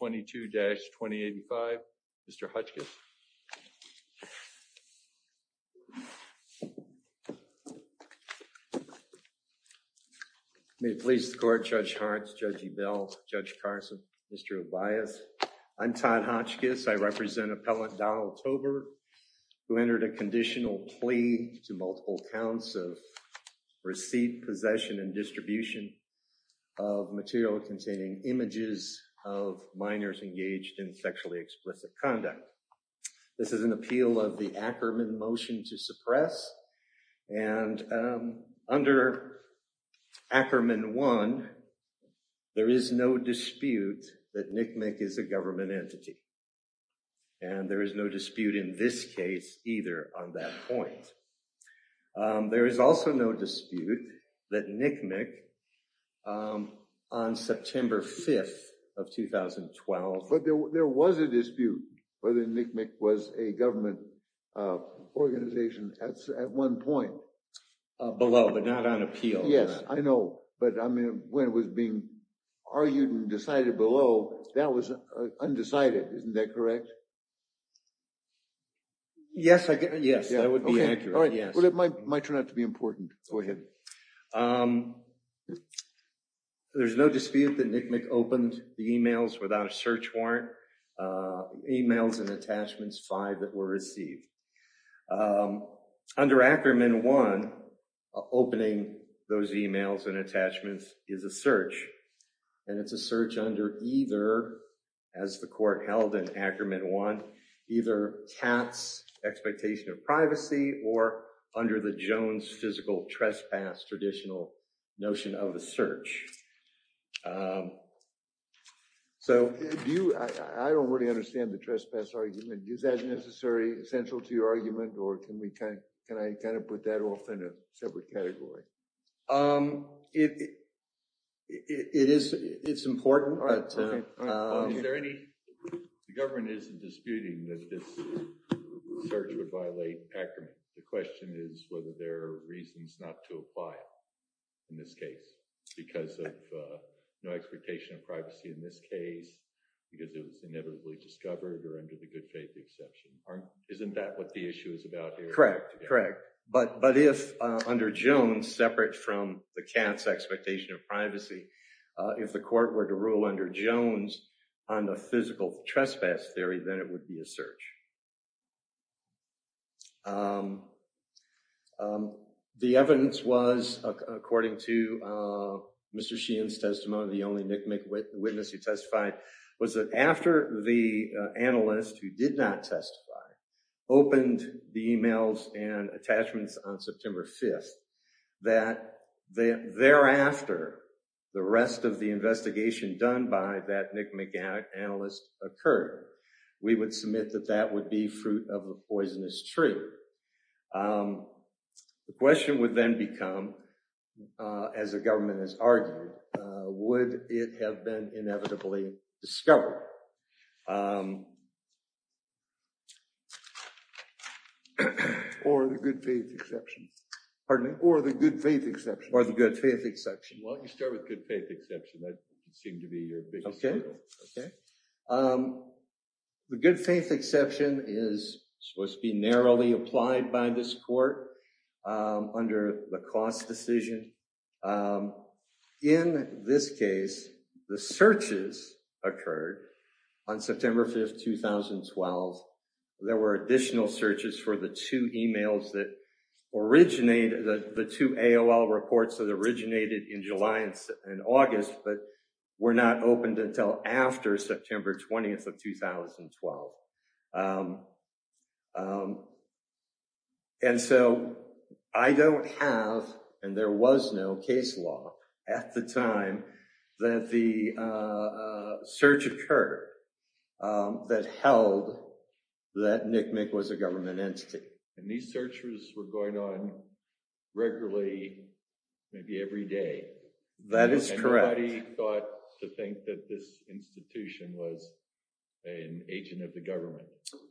22-2085. Mr. Hotchkiss. May it please the court, Judge Hartz, Judge Ebel, Judge Carson, Mr. Obias. I'm Todd Hotchkiss. I represent Appellant Donald Tolbert who entered a conditional plea to multiple counts of receipt, possession, and distribution of material containing images of minors engaged in sexually explicit conduct. This is an appeal of the Ackerman motion to suppress and under Ackerman 1, there is no dispute that NCMEC is a government entity and there is no dispute in this case either on that point. There is also no dispute that NCMEC on September 5th of 2012. But there was a dispute whether NCMEC was a government organization at one point. Below, but not on appeal. Yes, I know, but I mean when it was being argued and decided below that was undecided, isn't that correct? Yes, I guess. Yes, that would be accurate. All right, well it might turn out to be important. Go ahead. There's no dispute that NCMEC opened the emails without a search warrant. Emails and attachments five that were received. Under Ackerman 1, opening those emails and Ackerman 1, either TAT's expectation of privacy or under the Jones physical trespass traditional notion of a search. So do you, I don't really understand the trespass argument. Is that necessary, essential to your argument or can we kind of, can I kind of put that off in a separate category? It is, it's important. All right. Is there any, the government isn't disputing that this search would violate Ackerman. The question is whether there are reasons not to apply it in this case because of no expectation of privacy in this case because it was inevitably discovered or under the good faith exception. Isn't that what the issue is about here? Correct, correct, but if under Jones, separate from the CAT's expectation of privacy, if the court were to rule under Jones on the physical trespass theory, then it would be a search. The evidence was, according to Mr. Sheehan's testimony, the only NCMEC witness who testified was that after the analyst who did not testify opened the emails and attachments on September 5th that thereafter the rest of the investigation done by that NCMEC analyst occurred. We would submit that that would be fruit of a poisonous tree. The question would then become, as the discovery, or the good faith exception, pardon me, or the good faith exception, or the good faith exception. Why don't you start with good faith exception? That seemed to be your biggest hurdle. Okay. The good faith exception is supposed to be narrowly by this court under the cost decision. In this case, the searches occurred on September 5th, 2012. There were additional searches for the two emails that originated, the two AOL reports that originated in July and August but were not opened until after September 20th of 2012. And so I don't have, and there was no case law at the time that the search occurred that held that NCMEC was a government entity. And these searches were going on regularly, maybe every day. That is correct. Anybody thought to think that this institution was an agent of the government?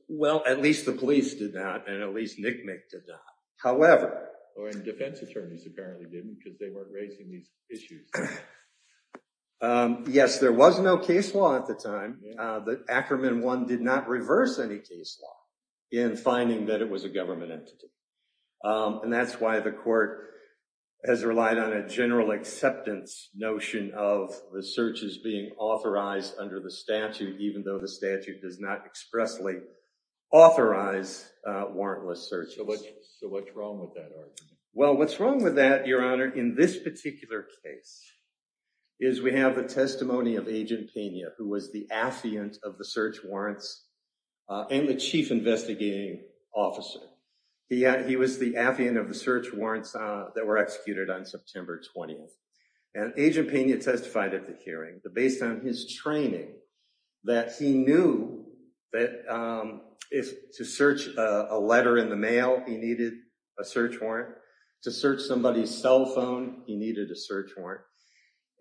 Well, at least the police did not, and at least NCMEC did not. However... Or defense attorneys apparently didn't because they weren't raising these issues. Yes, there was no case law at the time. The Ackerman one did not reverse any case law in finding that it was a government entity. And that's why the court has relied on a general acceptance notion of the searches being authorized under the statute even though the statute does not expressly authorize warrantless searches. So what's wrong with that argument? Well, what's wrong with that, Your Honor, in this particular case is we have the testimony of Agent Pena, who was the affiant of the search warrants and the chief investigating officer. He was the affiant of the search warrants that were executed on September 20th. And Agent Pena testified at the hearing that based on his training, that he knew that to search a letter in the mail, he needed a search warrant. To search somebody's cell phone, he needed a search warrant.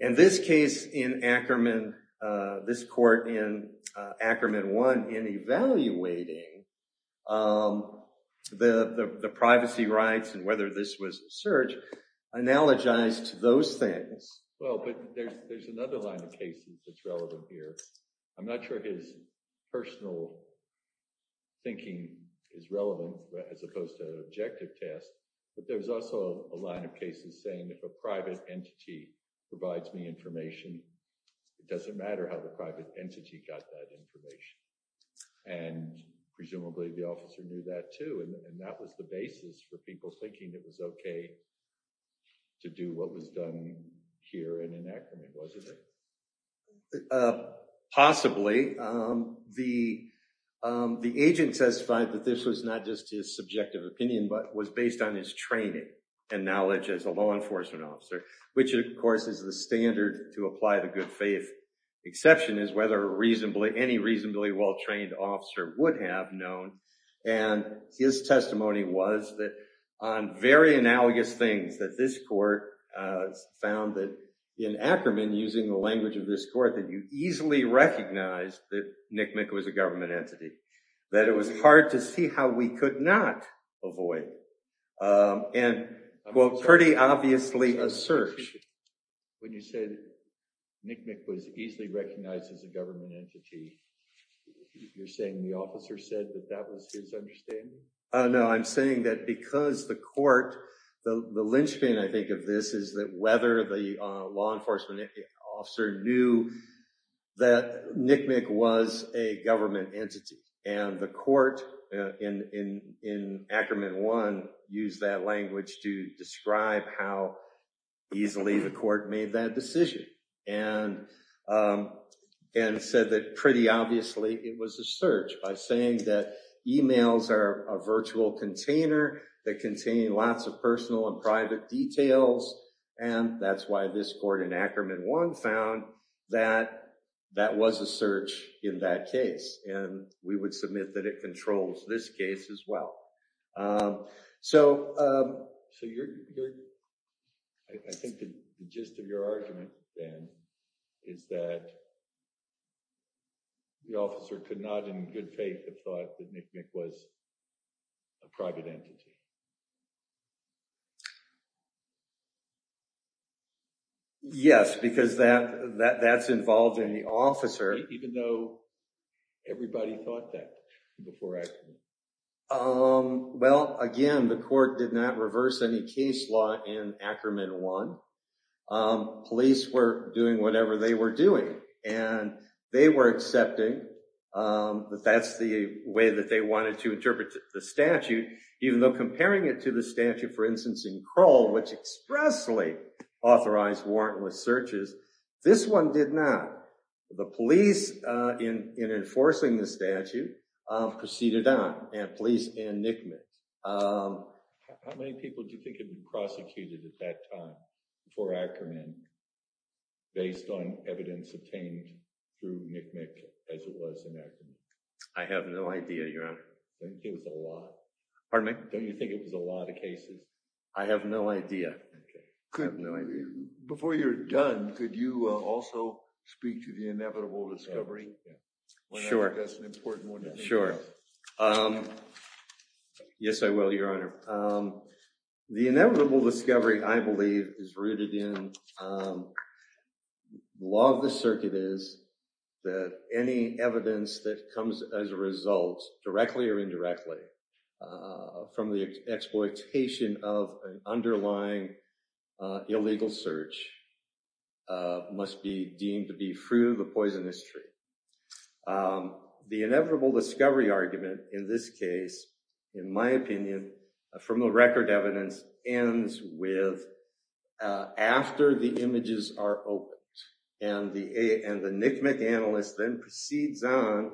In this case in Ackerman, this court in Ackerman one in evaluating the privacy rights and whether this was search analogized to those things. Well, but there's another line of cases that's relevant here. I'm not sure his personal thinking is relevant as opposed to an objective test. But there's also a line of cases saying if a private entity provides me information, it doesn't matter how the private entity got that information. And presumably the officer knew that too. And that was the basis for people thinking it was okay to do what was done here in Ackerman, wasn't it? Possibly. The agent testified that this was not just his subjective opinion, but was based on his training and knowledge as a law enforcement officer, which of course is the standard to any reasonably well-trained officer would have known. And his testimony was that on very analogous things that this court found that in Ackerman, using the language of this court, that you easily recognized that NCMEC was a government entity. That it was hard to see how we could not avoid. And well, pretty obviously a search. When you say that NCMEC was easily recognized as a government entity, you're saying the officer said that that was his understanding? No, I'm saying that because the court, the linchpin I think of this is that whether the law enforcement officer knew that NCMEC was a government entity. And the court in Ackerman 1 used that language to pretty obviously it was a search by saying that emails are a virtual container that contain lots of personal and private details. And that's why this court in Ackerman 1 found that that was a search in that case. And we would submit that it controls this case as well. So I think the argument then is that the officer could not in good faith have thought that NCMEC was a private entity. Yes, because that's involved in the officer. Even though everybody thought that before Ackerman. Well again, the court did not reverse any case law in Ackerman 1. Police were doing whatever they were doing. And they were accepting that that's the way that they wanted to interpret the statute. Even though comparing it to the statute for instance in Kroll, which expressly authorized warrantless searches, this one did not. The police in enforcing the statute proceeded on. And police in NCMEC. How many people do you think had been prosecuted at that time before Ackerman based on evidence obtained through NCMEC as it was in Ackerman? I have no idea, Your Honor. Don't you think it was a lot? Pardon me? Don't you think it was a lot of cases? I have no idea. Couldn't have no idea. Before you're done, could you also speak to the inevitable discovery? Sure. That's an important one. Sure. Yes, I will, Your Honor. The inevitable discovery I believe is rooted in law of the circuit is that any evidence that comes as a result directly or indirectly from the exploitation of an underlying illegal search must be deemed to be through the poison history. The inevitable discovery argument in this case, in my opinion, from the record evidence ends with after the images are opened. And the NCMEC analyst then proceeds on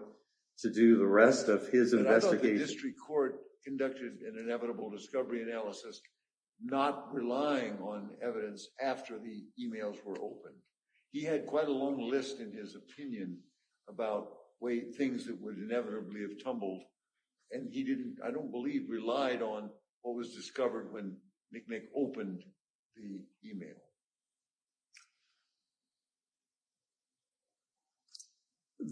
to do the rest of his investigation. But I thought the district court conducted an inevitable discovery analysis not relying on evidence after the emails were opened. He had quite a long list in his opinion about things that would inevitably have tumbled. And he didn't, I don't believe, relied on what was discovered when NCMEC opened the email.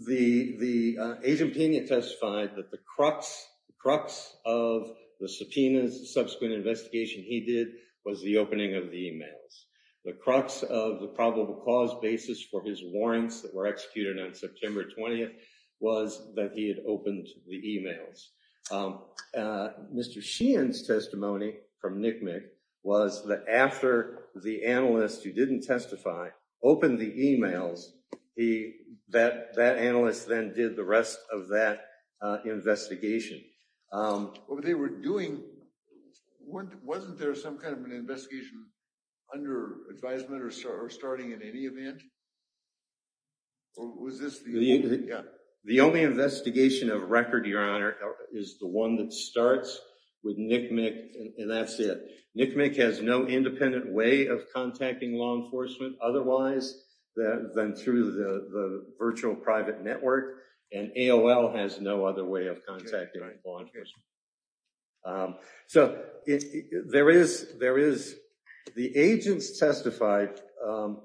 The agent testified that the crux of the subpoenas subsequent investigation he did was the opening of the emails. The crux of the probable cause basis for his warrants that were executed on September 20th was that he had opened the emails. Mr. Sheehan's testimony from NCMEC was that after the analyst who didn't testify opened the emails, that analyst then did the rest of that investigation. But they were doing, wasn't there some kind of an investigation under advisement or starting in any event? The only investigation of record, your honor, is the one that starts with NCMEC and that's it. NCMEC has no independent way of contacting law enforcement otherwise than through the virtual private network. And AOL has no other way of contacting law enforcement. So there is, the agents testified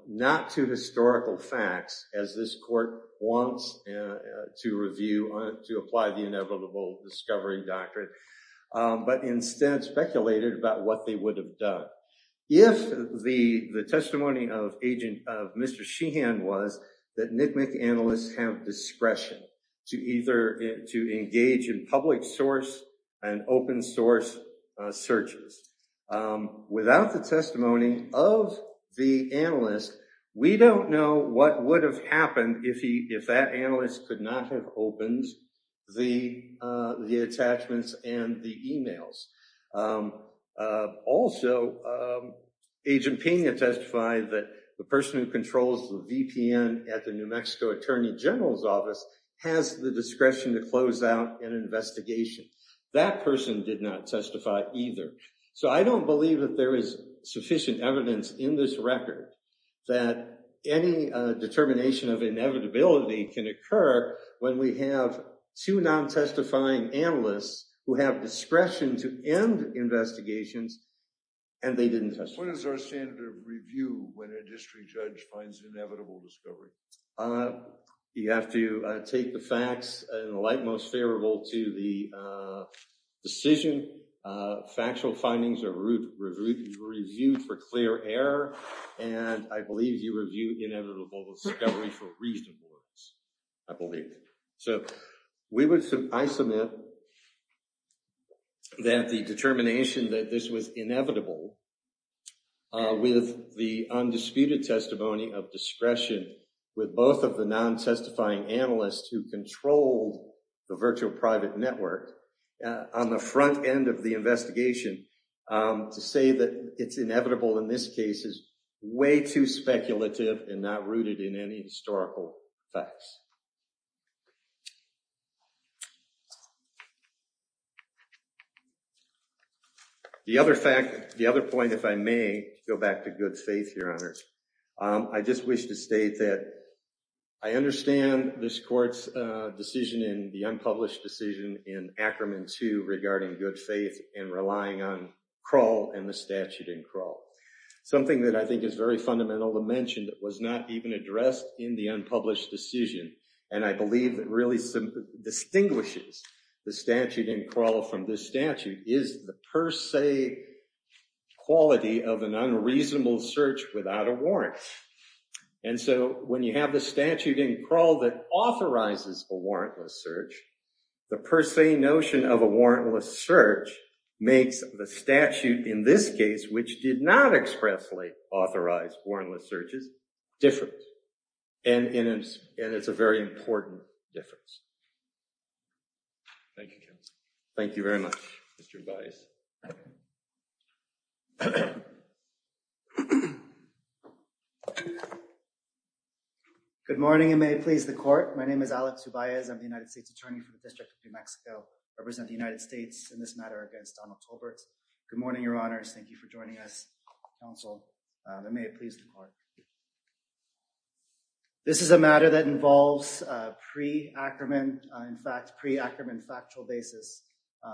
not to historical facts as this court wants to review, to apply the inevitable discovery doctrine, but instead speculated about what they would have done. If the testimony of Mr. Sheehan was that NCMEC analysts have discretion to either to engage in public source and open source searches. Without the if that analyst could not have opened the attachments and the emails. Also, Agent Pena testified that the person who controls the VPN at the New Mexico Attorney General's office has the discretion to close out an investigation. That person did not testify either. So I don't believe that there is sufficient evidence in this record that any determination of inevitability can occur when we have two non-testifying analysts who have discretion to end investigations and they didn't testify. What is our standard of review when a district judge finds inevitable discovery? You have to take the facts in the light most favorable to the decision. Factual findings are reviewed for clear error and I believe you review inevitable discovery for reasonableness, I believe. So we would, I submit that the determination that this was inevitable with the undisputed testimony of discretion with both of the non-testifying analysts who controlled the virtual private network on the front end of the investigation to say that it's inevitable in this case is way too speculative and not rooted in any historical facts. The other fact, the other point, if I may go back to good faith, Your Honor, I just wish to state that I understand this court's decision in the unpublished decision in Ackerman 2 regarding good faith and relying on Kroll and the statute in Kroll. Something that I think is very fundamental dimension that was not even addressed in the unpublished decision and I believe that really distinguishes the statute in Kroll from this statute is the per se quality of an unreasonable search without a warrant. And so when you have the statute in Kroll that authorizes a warrantless search, the per se notion of a warrantless search makes the statute in this case which did not expressly authorize warrantless searches different. And it's a very important difference. Thank you, counsel. Thank you very much, Mr. Ubaez. Good morning and may it please the court. My name is Alex Ubaez. I'm the United States Attorney for the District of New Mexico. I represent the United States in this matter against Donald Tolbert. Good morning, Your Honors. Thank you for joining us, counsel. And may it please the court. This is a matter that involves pre-Ackerman, in fact, pre-Ackerman factual basis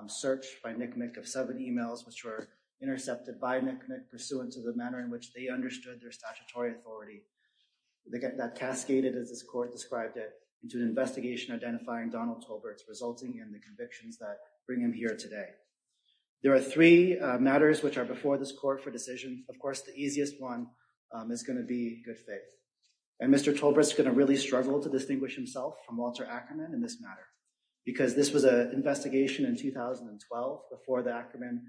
search by NCMEC of seven emails which were intercepted by NCMEC pursuant to the manner in which they understood their statutory authority that cascaded as this court described it into an investigation identifying Donald resulting in the convictions that bring him here today. There are three matters which are before this court for decision. Of course, the easiest one is going to be good faith. And Mr. Tolbert's going to really struggle to distinguish himself from Walter Ackerman in this matter because this was an investigation in 2012 before the Ackerman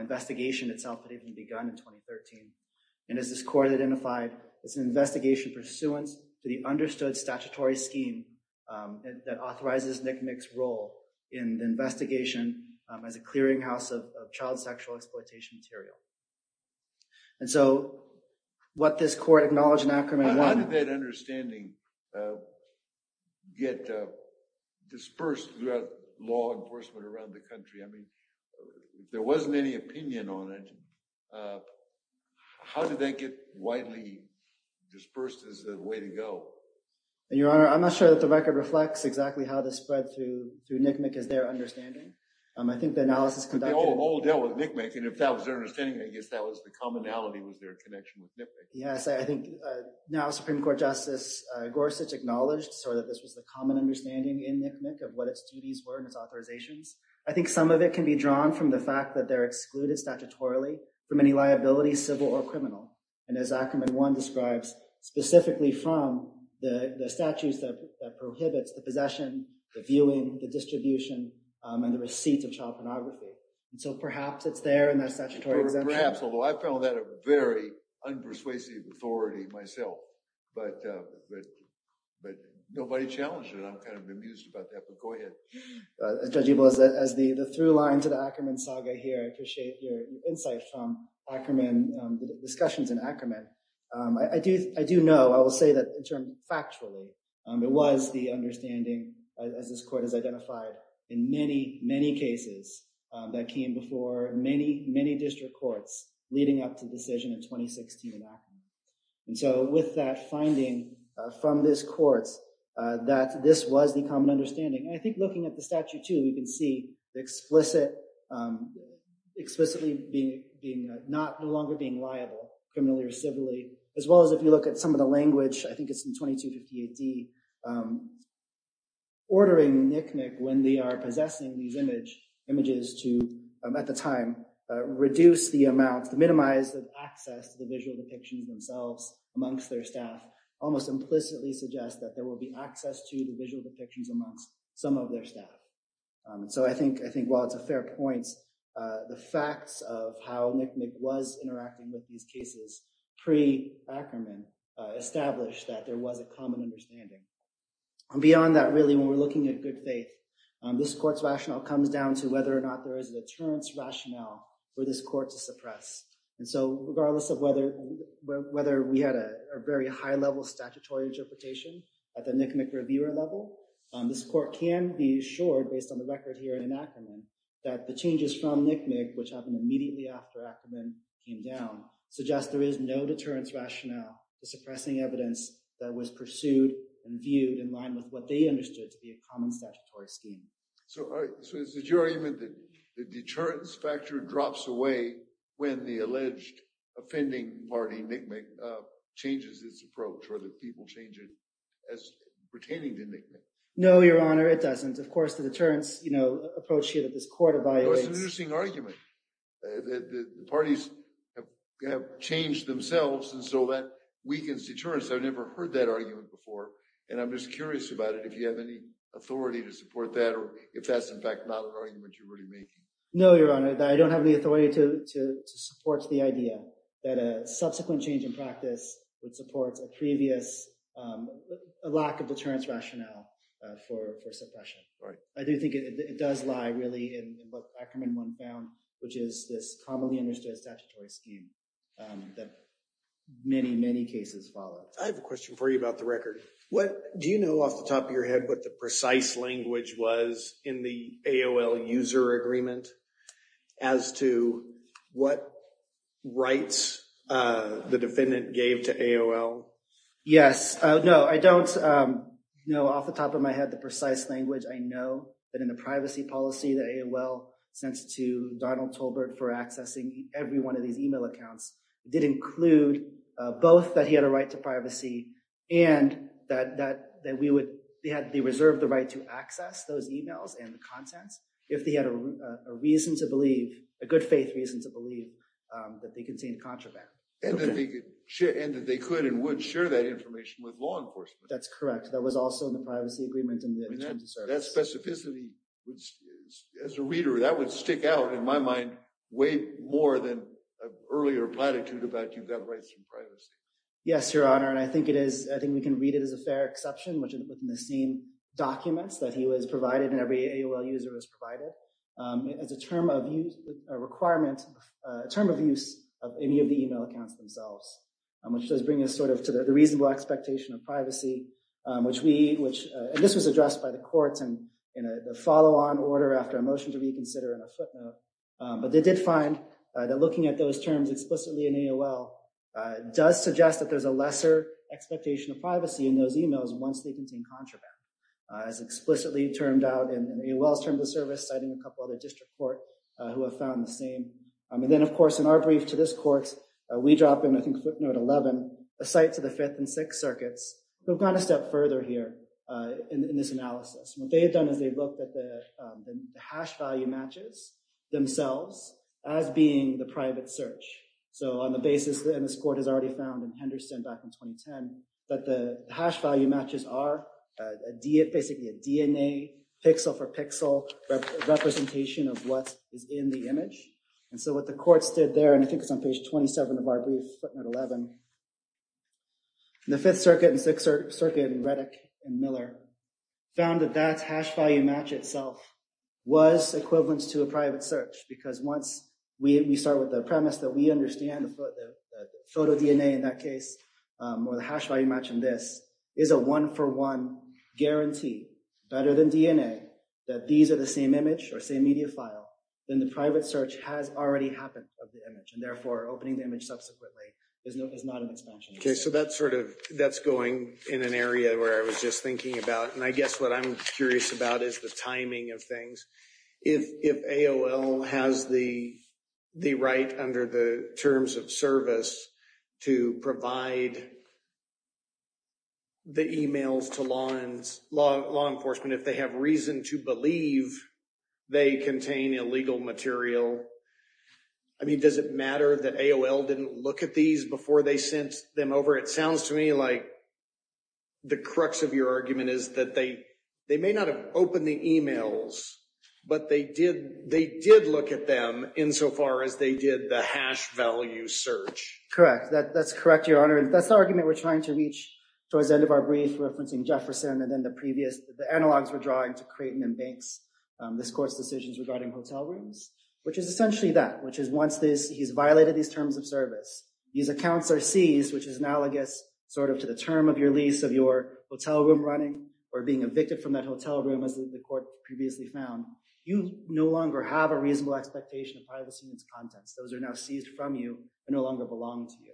investigation itself had even begun in 2013. And as this court identified, it's an investigation pursuant to the understood statutory scheme that authorizes NCMEC's role in the investigation as a clearinghouse of child sexual exploitation material. And so what this court acknowledged in Ackerman... How did that understanding get dispersed throughout law enforcement around the country? I mean, there wasn't any opinion on it. How did that get widely dispersed as a way to go? Your Honor, I'm not sure that the record reflects exactly how this spread through through NCMEC as their understanding. I think the analysis... They all dealt with NCMEC and if that was their understanding, I guess that was the commonality was their connection with NCMEC. Yes, I think now Supreme Court Justice Gorsuch acknowledged sort of this was the common understanding in NCMEC of what its duties were and its authorizations. I think some of it can be drawn from the fact that they're excluded statutorily from any liability, civil or criminal. And as Ackerman one describes specifically from the statutes that prohibits the possession, the viewing, the distribution, and the receipts of child pornography. And so perhaps it's there in that statutory exemption. Perhaps, although I found that a very unpersuasive authority myself, but nobody challenged it. I'm kind of amused about that, but go ahead. Judge Ebel, as the through line to the Ackerman saga here, I appreciate your discussions in Ackerman. I do know, I will say that in factually, it was the understanding as this court has identified in many, many cases that came before many, many district courts leading up to the decision in 2016 in Ackerman. And so with that finding from this court that this was the common understanding. And I think looking at the statute too, you can see explicitly not no longer being liable, criminally or civilly, as well as if you look at some of the language, I think it's in 2258D, ordering NICNIC when they are possessing these images to, at the time, reduce the amount, minimize the access to the visual depictions themselves amongst their staff, almost implicitly suggest that there will be access to the visual While it's a fair point, the facts of how NICNIC was interacting with these cases pre-Ackerman established that there was a common understanding. And beyond that, really, when we're looking at good faith, this court's rationale comes down to whether or not there is a deterrence rationale for this court to suppress. And so regardless of whether we had a very high level statutory interpretation at the NICNIC reviewer level, this court can be assured based on the record here in Ackerman that the changes from NICNIC, which happened immediately after Ackerman came down, suggest there is no deterrence rationale for suppressing evidence that was pursued and viewed in line with what they understood to be a common statutory scheme. So is it your argument that the deterrence factor drops away when the alleged offending party, NICNIC, changes its approach or the people change it as pertaining to NICNIC? No, Your Honor, it doesn't. Of course, the deterrence approach here that this court evaluates. That's an interesting argument. The parties have changed themselves, and so that weakens deterrence. I've never heard that argument before, and I'm just curious about it, if you have any authority to support that or if that's, in fact, not an argument you're really making. No, Your Honor, I don't have the authority to support the idea that a subsequent change in practice would support a previous lack of suppression. I do think it does lie, really, in what Ackerman 1 found, which is this commonly understood statutory scheme that many, many cases follow. I have a question for you about the record. Do you know off the top of your head what the precise language was in the AOL user agreement as to what rights the defendant gave to AOL? Yes. No, I don't know off the top of my head the precise language. I know that in the privacy policy that AOL sent to Donald Tolbert for accessing every one of these email accounts, it did include both that he had a right to privacy and that they reserved the right to access those emails and the contents if they had a reason to believe, a good faith reason to believe, that they contained contraband. And that they could and would share that information with law enforcement. That's in the privacy agreement. That specificity, as a reader, that would stick out in my mind way more than an earlier platitude about you've got rights and privacy. Yes, Your Honor, and I think it is, I think we can read it as a fair exception, which is within the same documents that he was provided and every AOL user is provided as a term of use, a requirement, a term of use of any of the email accounts themselves, which does bring us sort of to the reasonable expectation of privacy, which we, which, and this was addressed by the courts and in a follow-on order after a motion to reconsider in a footnote, but they did find that looking at those terms explicitly in AOL does suggest that there's a lesser expectation of privacy in those emails once they contain contraband, as explicitly termed out in AOL's terms of service, citing a couple other district court who have found the same. And then of course in our brief to this court, we drop in, I think, footnote 11, a site to the fifth and sixth circuits, who've gone a step further here in this analysis. What they've done is they've looked at the hash value matches themselves as being the private search. So on the basis, and this court has already found in Henderson back in 2010, that the hash value matches are basically a DNA pixel for pixel representation of what is in the image. And so what the court stood there, and I think it's on page 27 of our brief, footnote 11, the Fifth Circuit and Sixth Circuit and Reddick and Miller found that that hash value match itself was equivalent to a private search, because once we start with the premise that we understand the photo DNA in that case, or the hash value match in this, is a one-for-one guarantee better than DNA, that these are the same image or same media file, then the private search has already happened of the image, and therefore opening the image subsequently is not an expansion. Okay, so that's going in an area where I was just thinking about, and I guess what I'm curious about is the timing of things. If AOL has the right under the terms of service to provide the emails to law enforcement, if they have reason to believe they contain illegal material, I mean, does it matter that AOL didn't look at these before they sent them over? It sounds to me like the crux of your argument is that they may not have opened the emails, but they did look at them insofar as they did the hash value search. Correct, that's correct, Your Honor. That's the argument we're trying to reach towards the end of our brief, referencing Jefferson and then the previous, the analogs we're drawing to Creighton and Banks, this court's decisions regarding hotel rooms, which is essentially that, which is once he's violated these terms of service, these accounts are seized, which is analogous sort of to the term of your lease of your hotel room running or being evicted from that hotel room, as the court previously found. You no longer have a reasonable expectation of privacy in its contents. Those are now seized from you and no longer belong to you.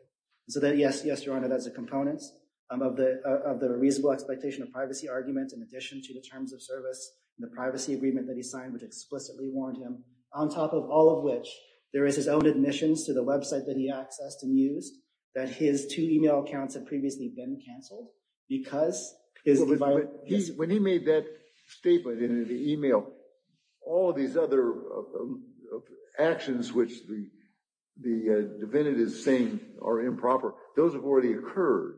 So that, yes, yes, Your Honor, that's a component of the reasonable expectation of privacy argument in addition to the terms of service and the privacy agreement that he signed, which explicitly warned him, on top of all of which, there is his own admissions to the website that he accessed and used, that his two email accounts had previously been canceled because his... When he made that statement in the email, all these other actions which the defendant is saying are improper, those have already occurred,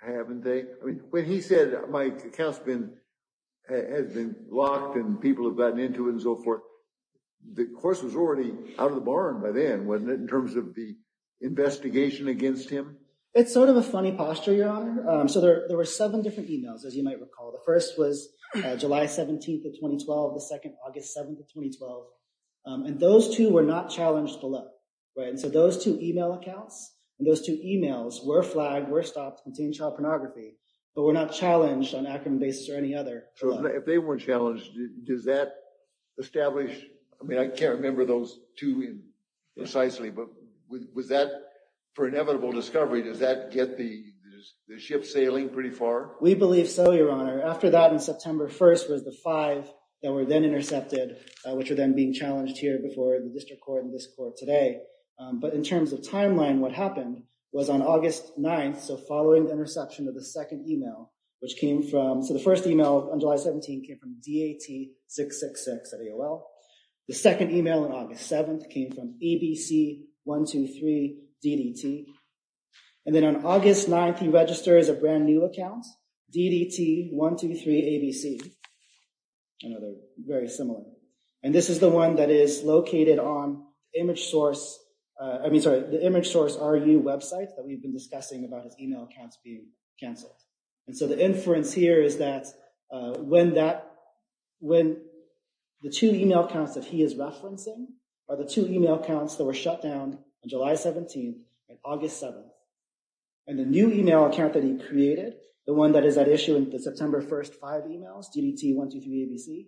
haven't they? I mean, when he said my account's been, has been into and so forth, the course was already out of the barn by then, wasn't it, in terms of the investigation against him? It's sort of a funny posture, Your Honor. So there were seven different emails, as you might recall. The first was July 17th of 2012, the second, August 7th of 2012, and those two were not challenged below, right? And so those two email accounts and those two emails were flagged, were stopped, contained child pornography, but were not challenged on acrimon established... I mean, I can't remember those two precisely, but was that, for inevitable discovery, does that get the ship sailing pretty far? We believe so, Your Honor. After that, on September 1st, was the five that were then intercepted, which were then being challenged here before the district court and this court today. But in terms of timeline, what happened was on August 9th, so following the interception of the second email, which came from... So the first email on July 17th came from dat666 at AOL. The second email on August 7th came from abc123ddt. And then on August 9th, he registers a brand new account, ddt123abc. I know they're very similar. And this is the one that is located on ImageSource... I mean, sorry, the ImageSource.ru website that we've been discussing about his email accounts being canceled. And so the inference here is that when the two email accounts that he is referencing are the two email accounts that were shut down on July 17th, like August 7th, and the new email account that he created, the one that is at issue in the September 1st five emails, ddt123abc,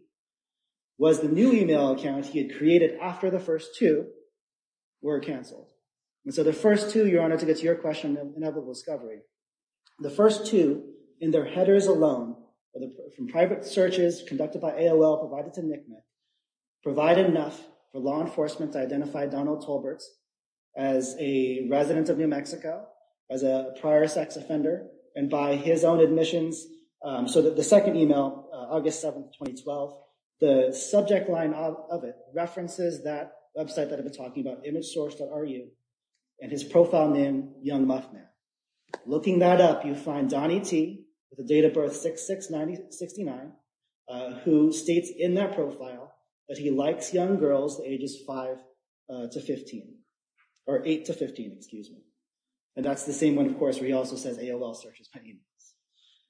was the new email account he had created after the first two were canceled. And so the first two, Your Honor, to get to your question of inevitable discovery, the first two in their headers alone, from private searches conducted by AOL provided to NCMEC, provide enough for law enforcement to identify Donald Tolbert as a resident of New Mexico, as a prior sex offender, and by his own admissions. So the second email, August 7th, 2012, the subject line of it references that website that I've been talking about, ImageSource.ru, and his profile name, Young Muff Man. Looking that up, you find Donny T. with a date of birth, 6-6-99, who states in that profile that he likes young girls ages five to 15, or eight to 15, excuse me. And that's the same one, of course, where he also says AOL searches emails.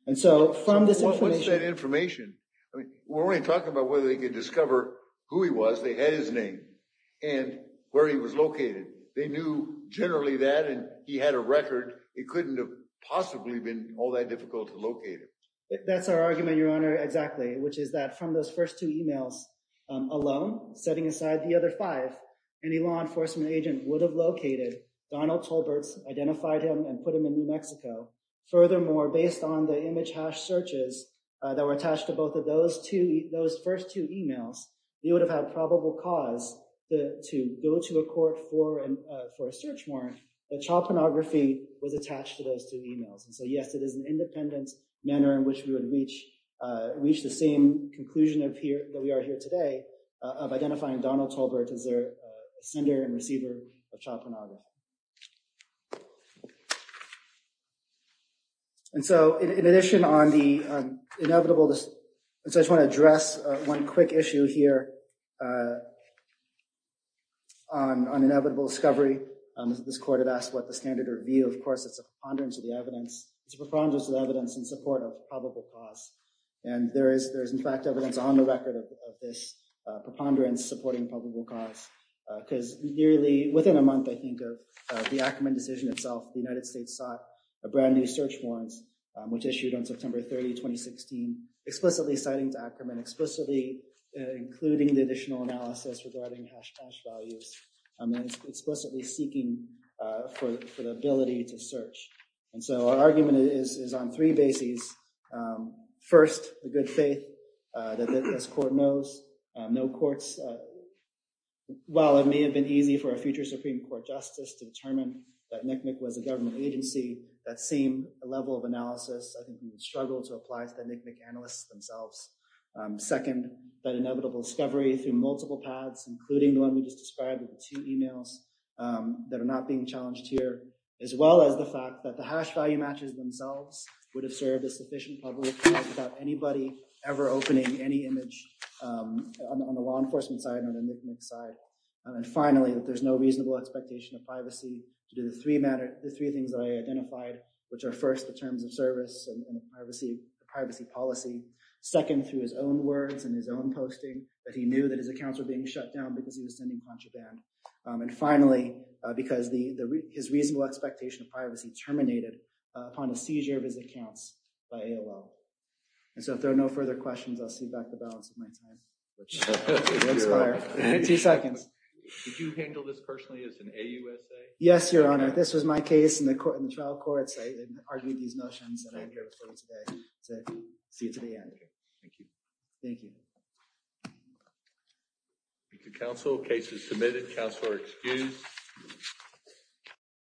And so from this information... What's that information? I mean, we're only talking about whether they could discover who he was, they had his name, and where he was located. They knew generally that, and he had a record. It couldn't have possibly been all that difficult to locate him. That's our argument, Your Honor, exactly, which is that from those first two emails alone, setting aside the other five, any law enforcement agent would have located Donald Tolbert, identified him, and put him in New Mexico. Furthermore, based on the image hash searches that were attached to both of those first two emails, they would have had probable cause to go to a court for a search warrant that child pornography was attached to those two emails. And so, yes, it is an independent manner in which we would reach the same conclusion that we are here today of identifying Donald Tolbert as a sender and receiver of child pornography. And so, in addition on the inevitable... I just want to address one quick issue here on inevitable discovery. This court had asked what the standard would be. Of course, it's a preponderance of the evidence. It's a preponderance of the evidence in support of this preponderance supporting probable cause, because nearly within a month, I think, of the Ackerman decision itself, the United States sought a brand new search warrant, which issued on September 30, 2016, explicitly citing to Ackerman, explicitly including the additional analysis regarding hash cash values, and explicitly seeking for the ability to search. And so, our argument is on three bases. First, the good faith that this court knows. No courts... While it may have been easy for a future Supreme Court justice to determine that NCMEC was a government agency, that same level of analysis, I think, would struggle to apply to the NCMEC analysts themselves. Second, that inevitable discovery through multiple paths, including the one we just described with the two emails, that are not being challenged here, as well as the fact that the hash value matches themselves would have served a sufficient probability without anybody ever opening any image on the law enforcement side or the NCMEC side. And finally, that there's no reasonable expectation of privacy to do the three things that I identified, which are first, the terms of service and the privacy policy. Second, through his own words and his own posting, that he knew that his accounts were being shut down because he was sending a bunch of them. And finally, because his reasonable expectation of privacy terminated upon a seizure of his accounts by AOL. And so, if there are no further questions, I'll see back the balance of my time, which will expire in two seconds. Did you handle this personally as an AUSA? Yes, Your Honor. This was my case in the trial courts. I argued these notions and I'm here to see it to the end. Thank you. Thank you. Thank you, counsel. Case is submitted. Counsel are excused.